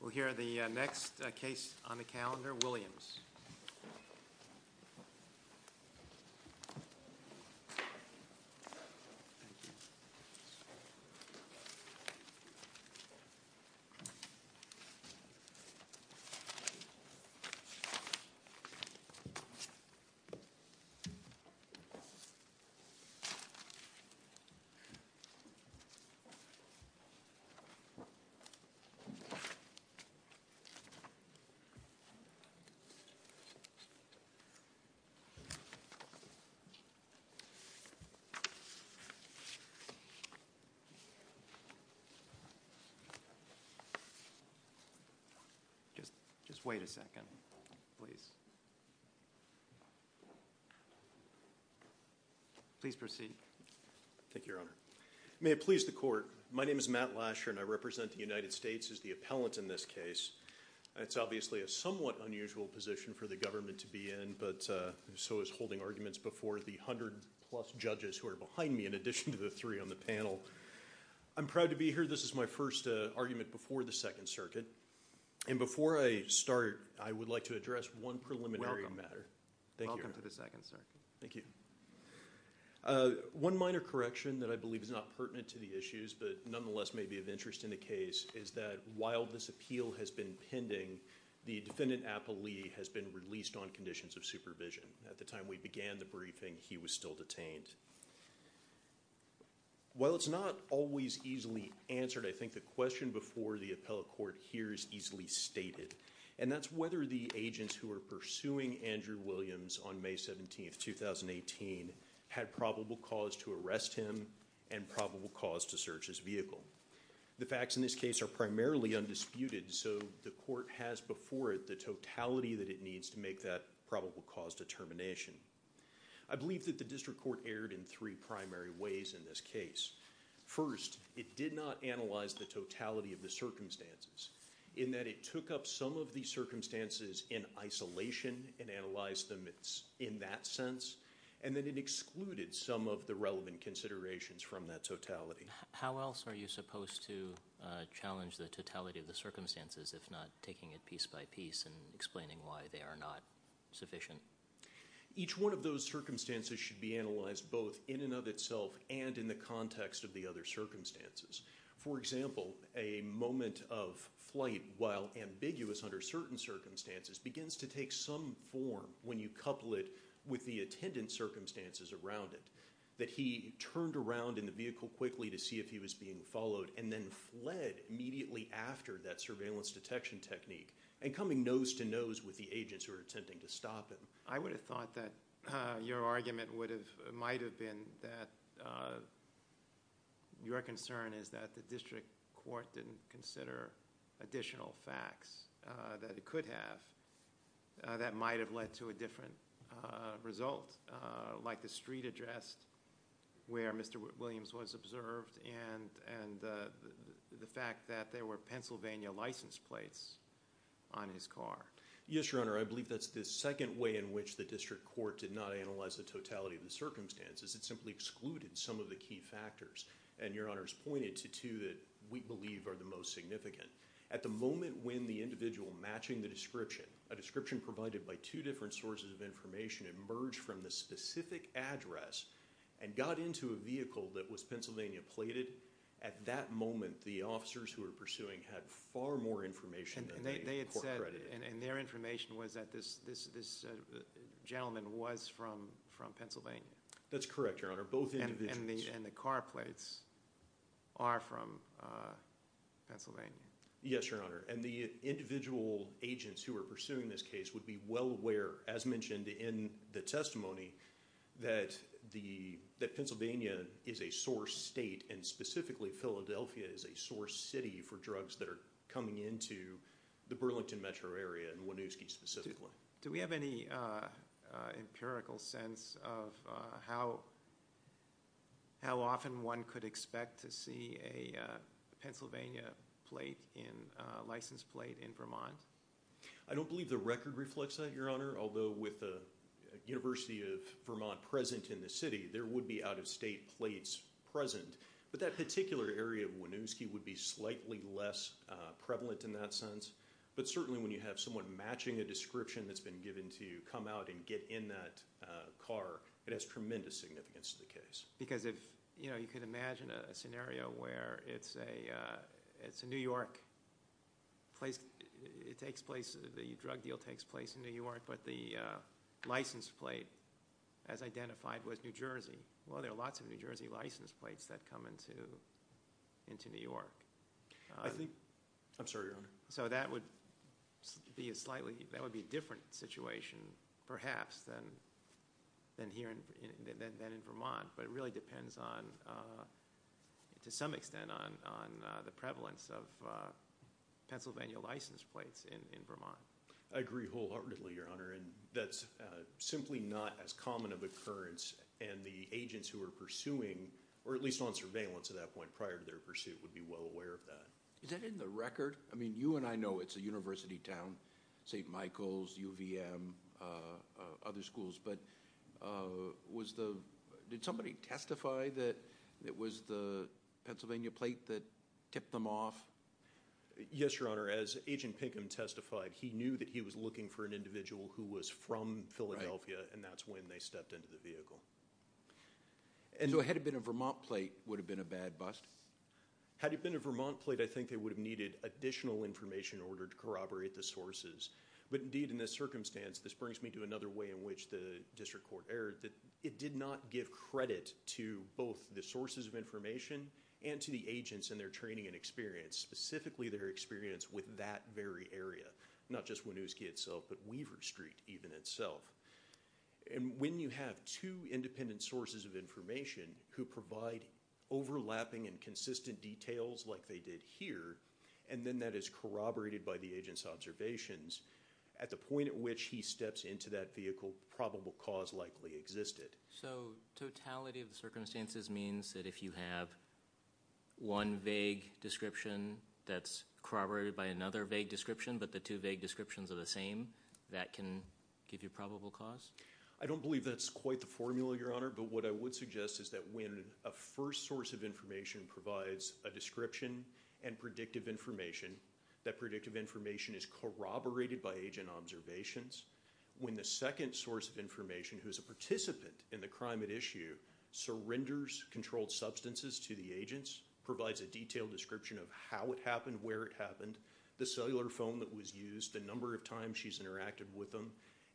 We'll hear the next case on the calendar, Williams. Just wait a second, please. Please proceed. Thank you, Your Honor. May it please the Court, my name is Matt Lasher and I represent the United States as the appellant in this case. It's obviously a somewhat unusual position for the government to be in, but so is holding arguments before the hundred plus judges who are behind me in addition to the three on the panel. I'm proud to be here. This is my first argument before the Second Circuit, and before I start, I would like to address one preliminary matter. Welcome to the Second Circuit. One minor correction that I believe is not pertinent to the issues, but nonetheless may be of interest in the case, is that while this appeal has been pending, the defendant Applee has been released on conditions of supervision. At the time we began the briefing, he was still detained. While it's not always easily answered, I think the question before the appellate court hears easily stated, and that's whether the agents who are pursuing Andrew Williams on May 17th, 2018, had probable cause to arrest him and probable cause to search his vehicle. The facts in this case are primarily undisputed, so the court has before it the totality that it needs to make that probable cause determination. I believe that the district court erred in three primary ways in this case. First, it did not analyze the totality of the circumstances, in that it took up some of the circumstances in isolation and analyzed them in that sense, and then it excluded some of the relevant considerations from that totality. How else are you supposed to challenge the totality of the circumstances if not taking it piece by piece and explaining why they are not sufficient? Each one of those circumstances should be analyzed both in and of itself and in the context of the other circumstances. For example, a moment of flight, while ambiguous under certain circumstances, begins to take some form when you couple it with the attendant circumstances around it, that he turned around in the vehicle quickly to see if he was being followed and then fled immediately after that surveillance detection technique and coming nose to nose with the agents who were attempting to stop him. I would have thought that your argument might have been that your concern is that the district court didn't consider additional facts that it could have that might have led to a different result, like the street address where Mr. Williams was observed and the fact that there were Pennsylvania license plates on his car. Yes, Your Honor. I believe that's the second way in which the district court did not analyze the totality of the circumstances. It simply excluded some of the key factors, and Your Honor has pointed to two that we believe are the most significant. At the moment when the individual matching the description, a description provided by two different sources of information, emerged from the specific address and got into a vehicle that was Pennsylvania plated, at that moment the officers who were pursuing had far more information than they had said. And their information was that this gentleman was from Pennsylvania? That's correct, Your Honor. Both individuals. And the car plates are from Pennsylvania? Yes, Your Honor. And the individual agents who were pursuing this case would be well aware, as mentioned in the testimony, that Pennsylvania is a source state and specifically Philadelphia is a source city for drugs that are coming into the Burlington metro area and Winooski specifically. Do we have any empirical sense of how often one could expect to see a Pennsylvania plate in a licensed plate in Vermont? I don't believe the record reflects that, Your Honor, although with the University of Vermont present in the city, there would be out-of-state plates present, but that particular area of Winooski would be slightly less prevalent in that sense. But certainly when you have someone matching a description that's been given to you come out and get in that car, it has tremendous significance to the case. Because if, you know, you could imagine a scenario where it's a New York place, it takes place, the drug deal takes place in New York, but the licensed plate, as identified, was New Jersey. Well, there are lots of New Jersey licensed plates that come into New York. I think, I'm sorry, Your Honor. So that would be a slightly, that would be a different situation perhaps than here, than in Vermont, but it really depends on, to some extent, on the prevalence of Pennsylvania licensed plates in Vermont. I agree wholeheartedly, Your Honor, and that's simply not as common of occurrence and the agents who are pursuing, or at least on surveillance at that point, prior to their pursuit, would be well aware of that. Is that in the record? I mean, you and I know it's a university town, St. Michael's, UVM, other schools, but was the, did somebody testify that it was the Pennsylvania plate that tipped them off? Yes, Your Honor, as Agent Pinkham testified, he knew that he was looking for an individual who was from Philadelphia, and that's when they stepped into the vehicle. And so had it been a Vermont plate, would it have been a bad bust? Had it been a Vermont plate, I think they would have needed additional information in order to corroborate the sources, but indeed, in this circumstance, this brings me to another way in which the district court erred, that it did not give credit to both the sources of information and to the agents and their training and experience, specifically their And when you have two independent sources of information who provide overlapping and consistent details like they did here, and then that is corroborated by the agent's observations, at the point at which he steps into that vehicle, probable cause likely existed. So totality of the circumstances means that if you have one vague description that's corroborated by another vague description, but the two vague descriptions are the same, that can give you probable cause? I don't believe that's quite the formula, Your Honor, but what I would suggest is that when a first source of information provides a description and predictive information, that predictive information is corroborated by agent observations. When the second source of information, who is a participant in the crime at issue, surrenders controlled substances to the agents, provides a detailed description of how it happened, where it happened, the cellular phone that was used, the number of times she's interacted with them,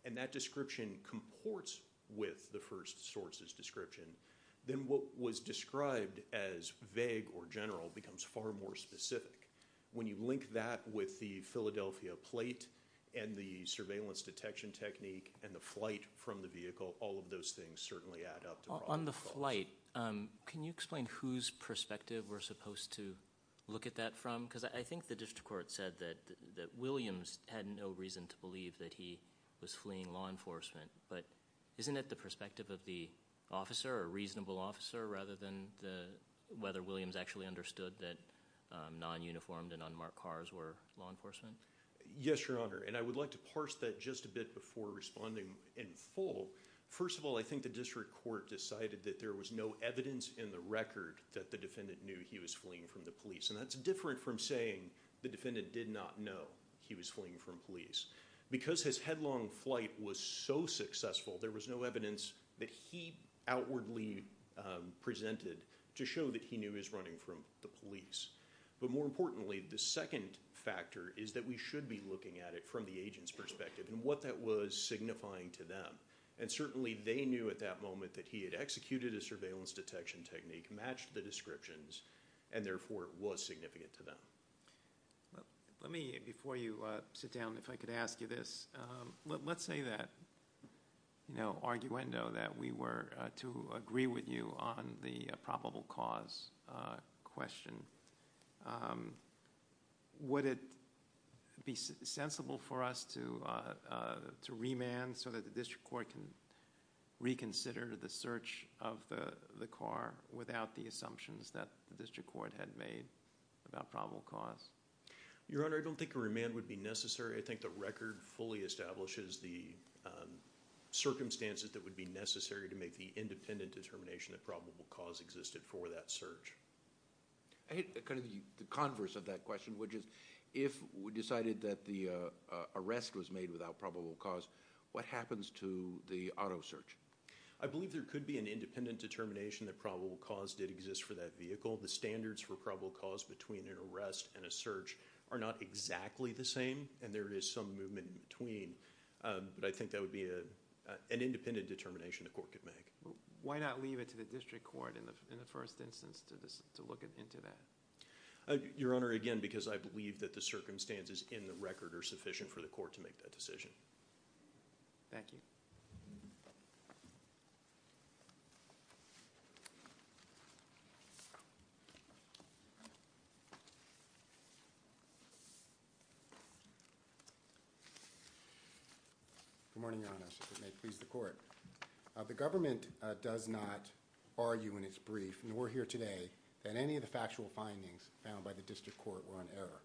and that description comports with the first source's description, then what was described as vague or general becomes far more specific. When you link that with the Philadelphia plate and the surveillance detection technique and the flight from the vehicle, all of those things certainly add up to probable cause. On the flight, can you explain whose perspective we're supposed to look at that from? I think the district court said that Williams had no reason to believe that he was fleeing law enforcement, but isn't it the perspective of the officer, a reasonable officer, rather than whether Williams actually understood that non-uniformed and unmarked cars were law enforcement? Yes, Your Honor, and I would like to parse that just a bit before responding in full. First of all, I think the district court decided that there was no evidence in the record that the defendant knew he was fleeing from the police, and that's different from saying the defendant did not know he was fleeing from police. Because his headlong flight was so successful, there was no evidence that he outwardly presented to show that he knew he was running from the police, but more importantly, the second factor is that we should be looking at it from the agent's perspective and what that was signifying to them, and certainly they knew at that moment that he had executed a surveillance detection technique, matched the descriptions, and therefore it was significant to them. Let me, before you sit down, if I could ask you this. Let's say that, you know, arguendo, that we were to agree with you on the probable cause question, would it be sensible for us to remand so that the district court can reconsider the search of the car without the assumptions that the district court had made about probable cause? Your Honor, I don't think a remand would be necessary. I think the record fully establishes the circumstances that would be necessary to make the independent determination that probable cause existed for that search. I hate kind of the converse of that question, which is if we decided that the arrest was made without probable cause, what happens to the auto search? I believe there could be an independent determination that probable cause did exist for that vehicle. The standards for probable cause between an arrest and a search are not exactly the same, and there is some movement in between, but I think that would be an independent determination the court could make. Why not leave it to the district court in the first instance to look into that? Your Honor, again, because I believe that the circumstances in the record are sufficient for the court to make that decision. Thank you. Good morning, Your Honor, if it may please the court. The government does not argue in its brief, nor here today, that any of the factual findings found by the district court were in error,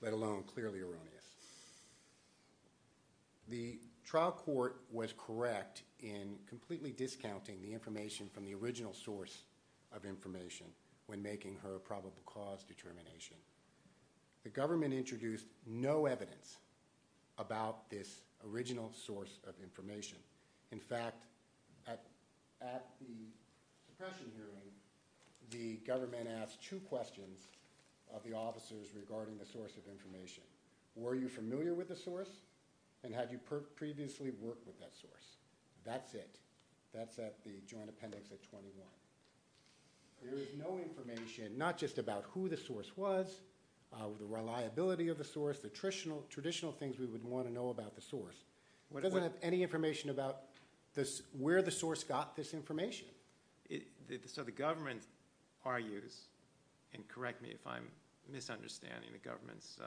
let alone clearly erroneous. The trial court was correct in completely discounting the information from the original source of information when making her probable cause determination. The government introduced no evidence about this original source of information. In fact, at the suppression hearing, the government asked two questions of the officers regarding the source of information. Were you familiar with the source, and had you previously worked with that source? That's it. That's at the joint appendix at 21. There is no information, not just about who the source was, the reliability of the source, the traditional things we would want to know about the source. It doesn't have any information about where the source got this information. So the government argues, and correct me if I'm misunderstanding the government's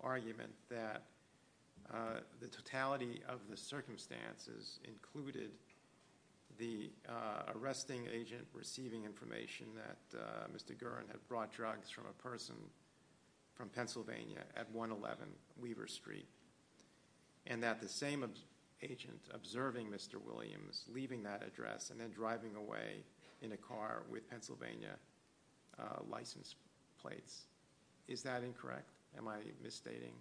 argument, that the totality of the circumstances included the arresting agent receiving information that Mr. Gurin had brought drugs from a person from Pennsylvania at 111 Weaver Street, and that the same agent observing Mr. Williams, leaving that address, and then driving away in a car with Pennsylvania license plates. Is that incorrect? Am I misstating?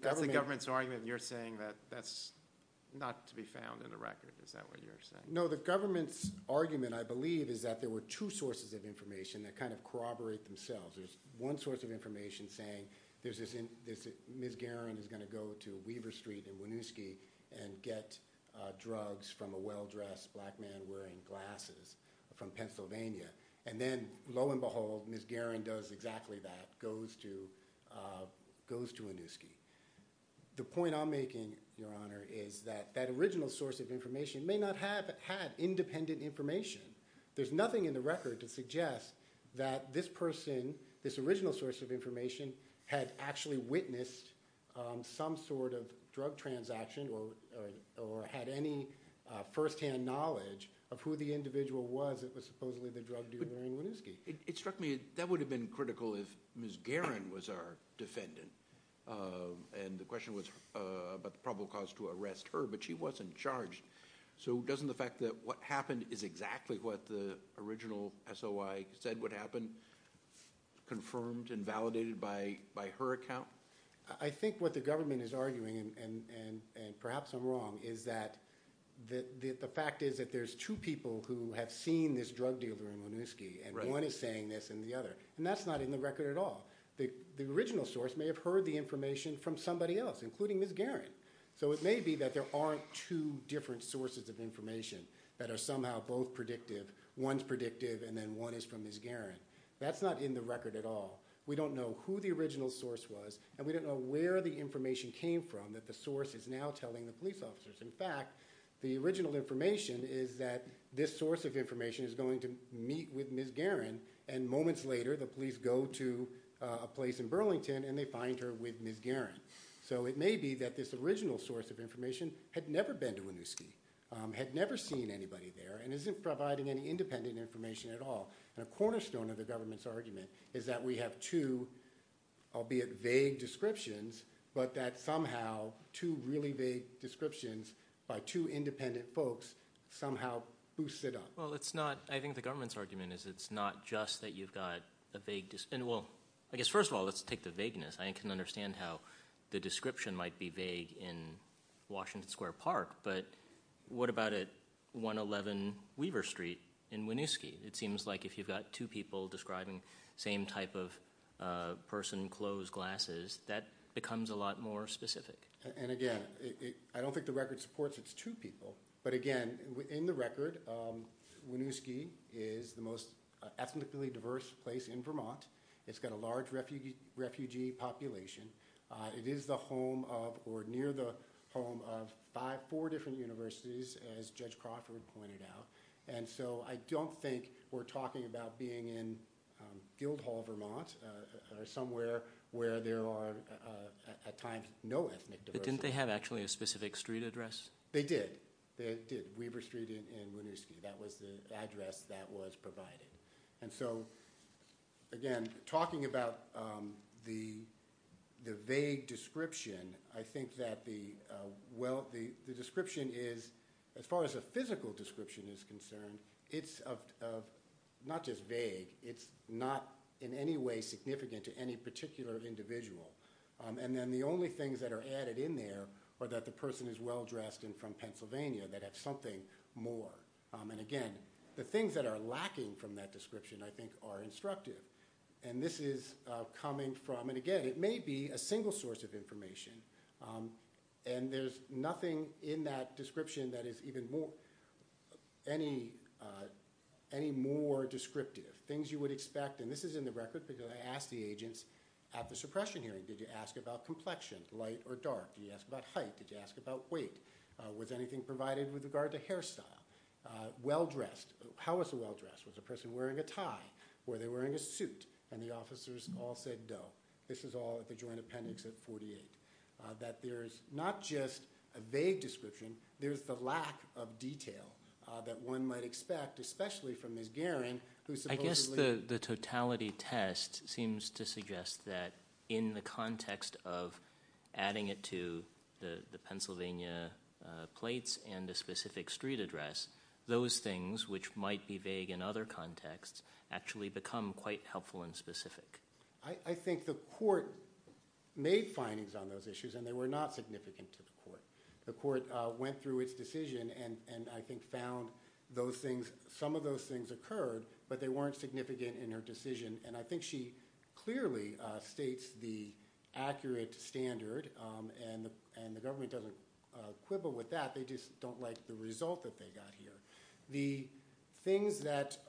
That's the government's argument, and you're saying that's not to be found in the record. Is that what you're saying? No, the government's argument, I believe, is that there were two sources of information that kind of corroborate themselves. There's one source of information saying Ms. Gurin is going to go to Weaver Street in Winooski and get drugs from a well-dressed black man wearing glasses from Pennsylvania, and then, lo and behold, Ms. Gurin does exactly that, goes to Winooski. The point I'm making, Your Honor, is that that original source of information may not have had independent information. There's nothing in the record to suggest that this person, this original source of information, had actually witnessed some sort of drug transaction or had any firsthand knowledge of who the individual was that was supposedly the drug dealer in Winooski. It struck me that that would have been critical if Ms. Gurin was our defendant, and the question was about the probable cause to arrest her, but she wasn't charged. So doesn't the fact that what happened is exactly what the original SOI said would happen, confirmed and validated by her account? I think what the government is arguing, and perhaps I'm wrong, is that the fact is that there's two people who have seen this drug dealer in Winooski, and one is saying this and the other, and that's not in the record at all. The original source may have heard the information from somebody else, including Ms. Gurin, so it may be that there aren't two different sources of information that are somehow both predictive. One's predictive and then one is from Ms. Gurin. That's not in the record at all. We don't know who the original source was, and we don't know where the information came from that the source is now telling the police officers. In fact, the original information is that this source of information is going to meet with Ms. Gurin, and moments later the police go to a place in Burlington and they find her with Ms. Gurin. So it may be that this original source of information had never been to Winooski, had never seen anybody there, and isn't providing any independent information at all. A cornerstone of the government's argument is that we have two, albeit vague, descriptions, but that somehow two really vague descriptions by two independent folks somehow boost it up. Well, I think the government's argument is it's not just that you've got a vague description. Well, I guess first of all, let's take the vagueness. I can understand how the description might be vague in Washington Square Park, but what about at 111 Weaver Street in Winooski? It seems like if you've got two people describing the same type of person, clothes, glasses, that becomes a lot more specific. And again, I don't think the record supports it's two people, but again, in the record, Winooski is the most ethnically diverse place in Vermont. It's got a large refugee population. It is the home of or near the home of four different universities, as Judge Crawford pointed out, and so I don't think we're talking about being in Guildhall, Vermont, or somewhere where there are at times no ethnic diversity. But didn't they have actually a specific street address? They did. They did, Weaver Street in Winooski. That was the address that was provided. And so, again, talking about the vague description, I think that the description is, as far as a physical description is concerned, it's not just vague. It's not in any way significant to any particular individual. And then the only things that are added in there are that the person is well-dressed and from Pennsylvania, that have something more. And, again, the things that are lacking from that description, I think, are instructive. And this is coming from, and again, it may be a single source of information, and there's nothing in that description that is any more descriptive. Things you would expect, and this is in the record because I asked the agents at the suppression hearing, did you ask about complexion, light or dark? Did you ask about height? Did you ask about weight? Was anything provided with regard to hairstyle? Well-dressed. How was the well-dressed? Was the person wearing a tie? Were they wearing a suit? And the officers all said no. This is all at the joint appendix at 48. That there's not just a vague description, there's the lack of detail that one might expect, especially from Ms. Guerin, who supposedly – that in the context of adding it to the Pennsylvania plates and a specific street address, those things, which might be vague in other contexts, actually become quite helpful and specific. I think the court made findings on those issues, and they were not significant to the court. The court went through its decision and, I think, found those things. Some of those things occurred, but they weren't significant in her decision, and I think she clearly states the accurate standard, and the government doesn't quibble with that. They just don't like the result that they got here. The things that –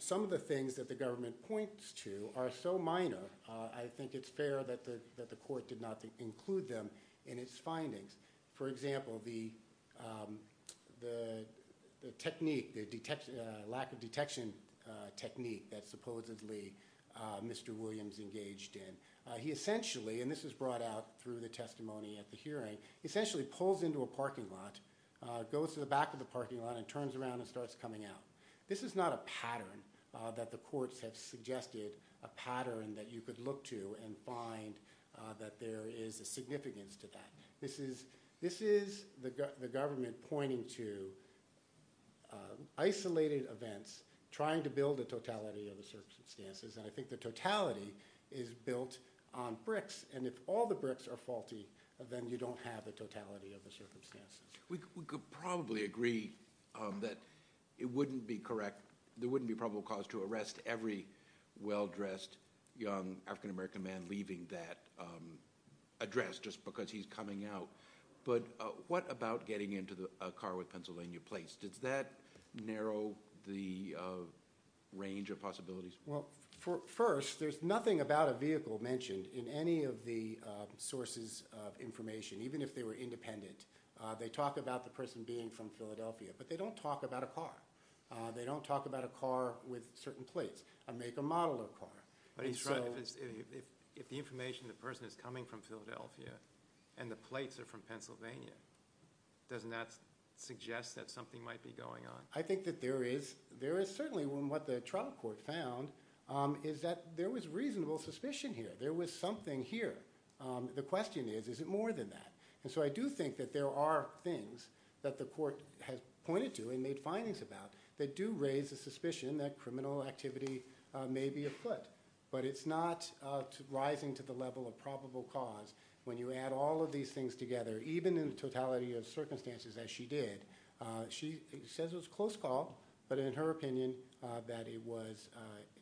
some of the things that the government points to are so minor, I think it's fair that the court did not include them in its findings. For example, the technique, the lack of detection technique that supposedly Mr. Williams engaged in, he essentially – and this was brought out through the testimony at the hearing – he essentially pulls into a parking lot, goes to the back of the parking lot, and turns around and starts coming out. This is not a pattern that the courts have suggested, a pattern that you could look to and find that there is a significance to that. This is the government pointing to isolated events, trying to build a totality of the circumstances, and I think the totality is built on bricks, and if all the bricks are faulty, then you don't have the totality of the circumstances. We could probably agree that it wouldn't be correct – there wouldn't be probable cause to arrest every well-dressed young African-American man leaving that address just because he's coming out. But what about getting into a car with Pennsylvania plates? Does that narrow the range of possibilities? Well, first, there's nothing about a vehicle mentioned in any of the sources of information. Even if they were independent, they talk about the person being from Philadelphia, but they don't talk about a car. They don't talk about a car with certain plates. Make a model of a car. If the information of the person is coming from Philadelphia and the plates are from Pennsylvania, doesn't that suggest that something might be going on? I think that there is. Certainly, what the trial court found is that there was reasonable suspicion here. There was something here. The question is, is it more than that? So I do think that there are things that the court has pointed to and made findings about that do raise the suspicion that criminal activity may be afoot, but it's not rising to the level of probable cause. When you add all of these things together, even in the totality of circumstances, as she did, she says it was close call, but in her opinion, that it was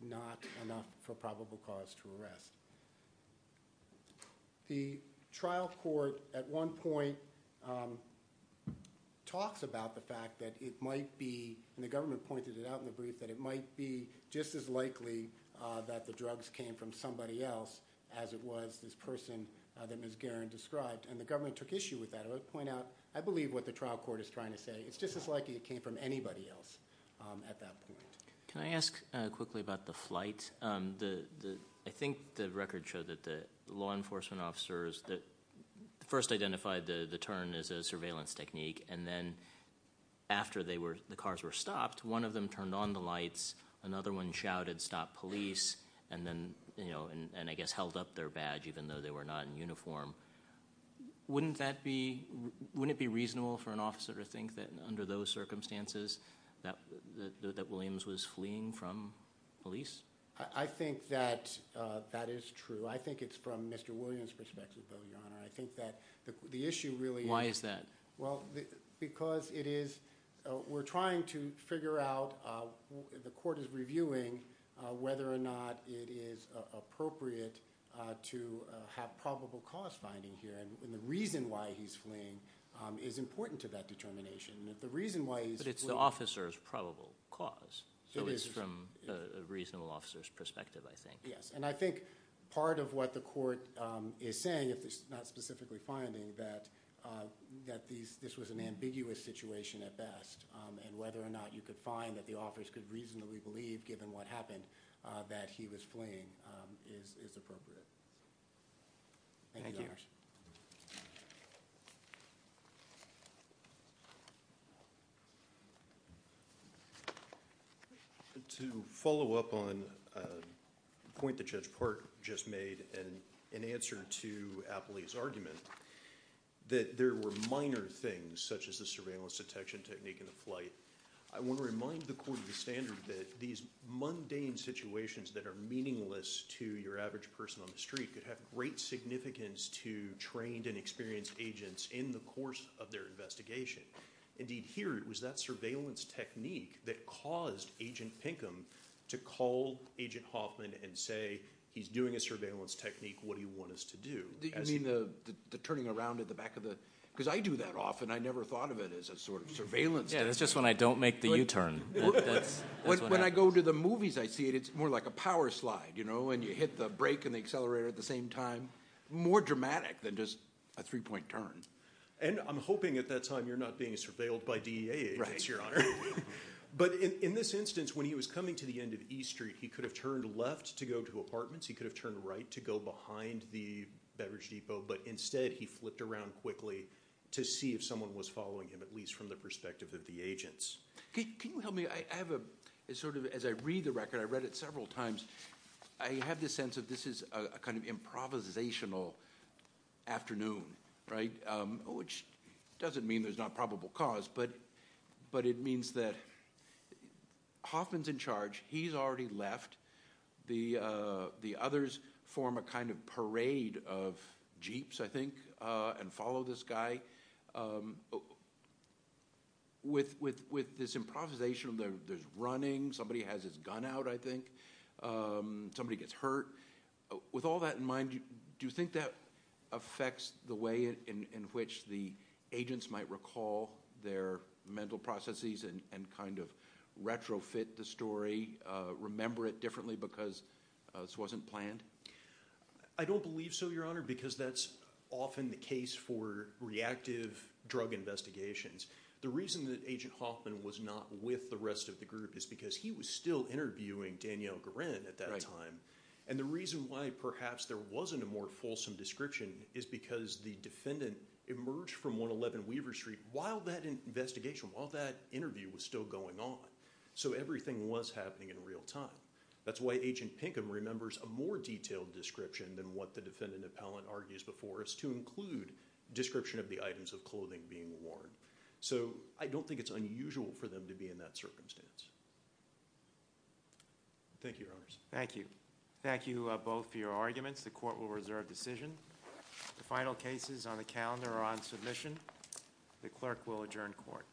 not enough for probable cause to arrest. The trial court at one point talks about the fact that it might be, and the government pointed it out in the brief, that it might be just as likely that the drugs came from somebody else as it was this person that Ms. Guerin described, and the government took issue with that. I would point out, I believe what the trial court is trying to say, it's just as likely it came from anybody else at that point. Can I ask quickly about the flight? I think the record showed that the law enforcement officers first identified the turn as a surveillance technique, and then after the cars were stopped, one of them turned on the lights, another one shouted, stop police, and I guess held up their badge, even though they were not in uniform. Wouldn't it be reasonable for an officer to think that under those circumstances that Williams was fleeing from police? I think that that is true. I think it's from Mr. Williams' perspective, though, Your Honor. I think that the issue really is... Why is that? Because we're trying to figure out, the court is reviewing whether or not it is appropriate to have probable cause finding here, and the reason why he's fleeing is important to that determination. But it's the officer's probable cause, so it's from a reasonable officer's perspective, I think. Yes, and I think part of what the court is saying, if it's not specifically finding, that this was an ambiguous situation at best, and whether or not you could find that the officers could reasonably believe, given what happened, that he was fleeing is appropriate. Thank you, Your Honors. To follow up on a point that Judge Park just made in answer to Apley's argument, that there were minor things, such as the surveillance detection technique in the flight, I want to remind the Court of the Standard that these mundane situations that are meaningless to your average person on the street who trained and experienced agents in the course of their investigation. Indeed, here, it was that surveillance technique that caused Agent Pinkham to call Agent Hoffman and say, he's doing a surveillance technique, what do you want us to do? You mean the turning around at the back of the... Because I do that often, I never thought of it as a sort of surveillance technique. Yeah, that's just when I don't make the U-turn. When I go to the movies, I see it, it's more like a power slide, you know, and you hit the brake and the accelerator at the same time. More dramatic than just a three-point turn. And I'm hoping at that time you're not being surveilled by DEA agents, Your Honor. Right. But in this instance, when he was coming to the end of E Street, he could have turned left to go to apartments, he could have turned right to go behind the beverage depot, but instead he flipped around quickly to see if someone was following him, at least from the perspective of the agents. Can you help me? I have a sort of, as I read the record, I read it several times, I have this sense that this is a kind of improvisational afternoon, right? Which doesn't mean there's not probable cause, but it means that Hoffman's in charge, he's already left, the others form a kind of parade of Jeeps, I think, and follow this guy. With this improvisation, there's running, somebody has his gun out, I think, somebody gets hurt, with all that in mind, do you think that affects the way in which the agents might recall their mental processes and kind of retrofit the story, remember it differently because this wasn't planned? I don't believe so, Your Honor, because that's often the case for reactive drug investigations. The reason that Agent Hoffman was not with the rest of the group is because he was still interviewing Danielle Guerin at that time, and the reason why perhaps there wasn't a more fulsome description is because the defendant emerged from 111 Weaver Street while that investigation, while that interview was still going on, so everything was happening in real time. That's why Agent Pinkham remembers a more detailed description than what the defendant appellant argues before us to include description of the items of clothing being worn. So I don't think it's unusual for them to be in that circumstance. Thank you, Your Honors. Thank you. Thank you both for your arguments. The court will reserve decision. The final cases on the calendar are on submission. The clerk will adjourn court.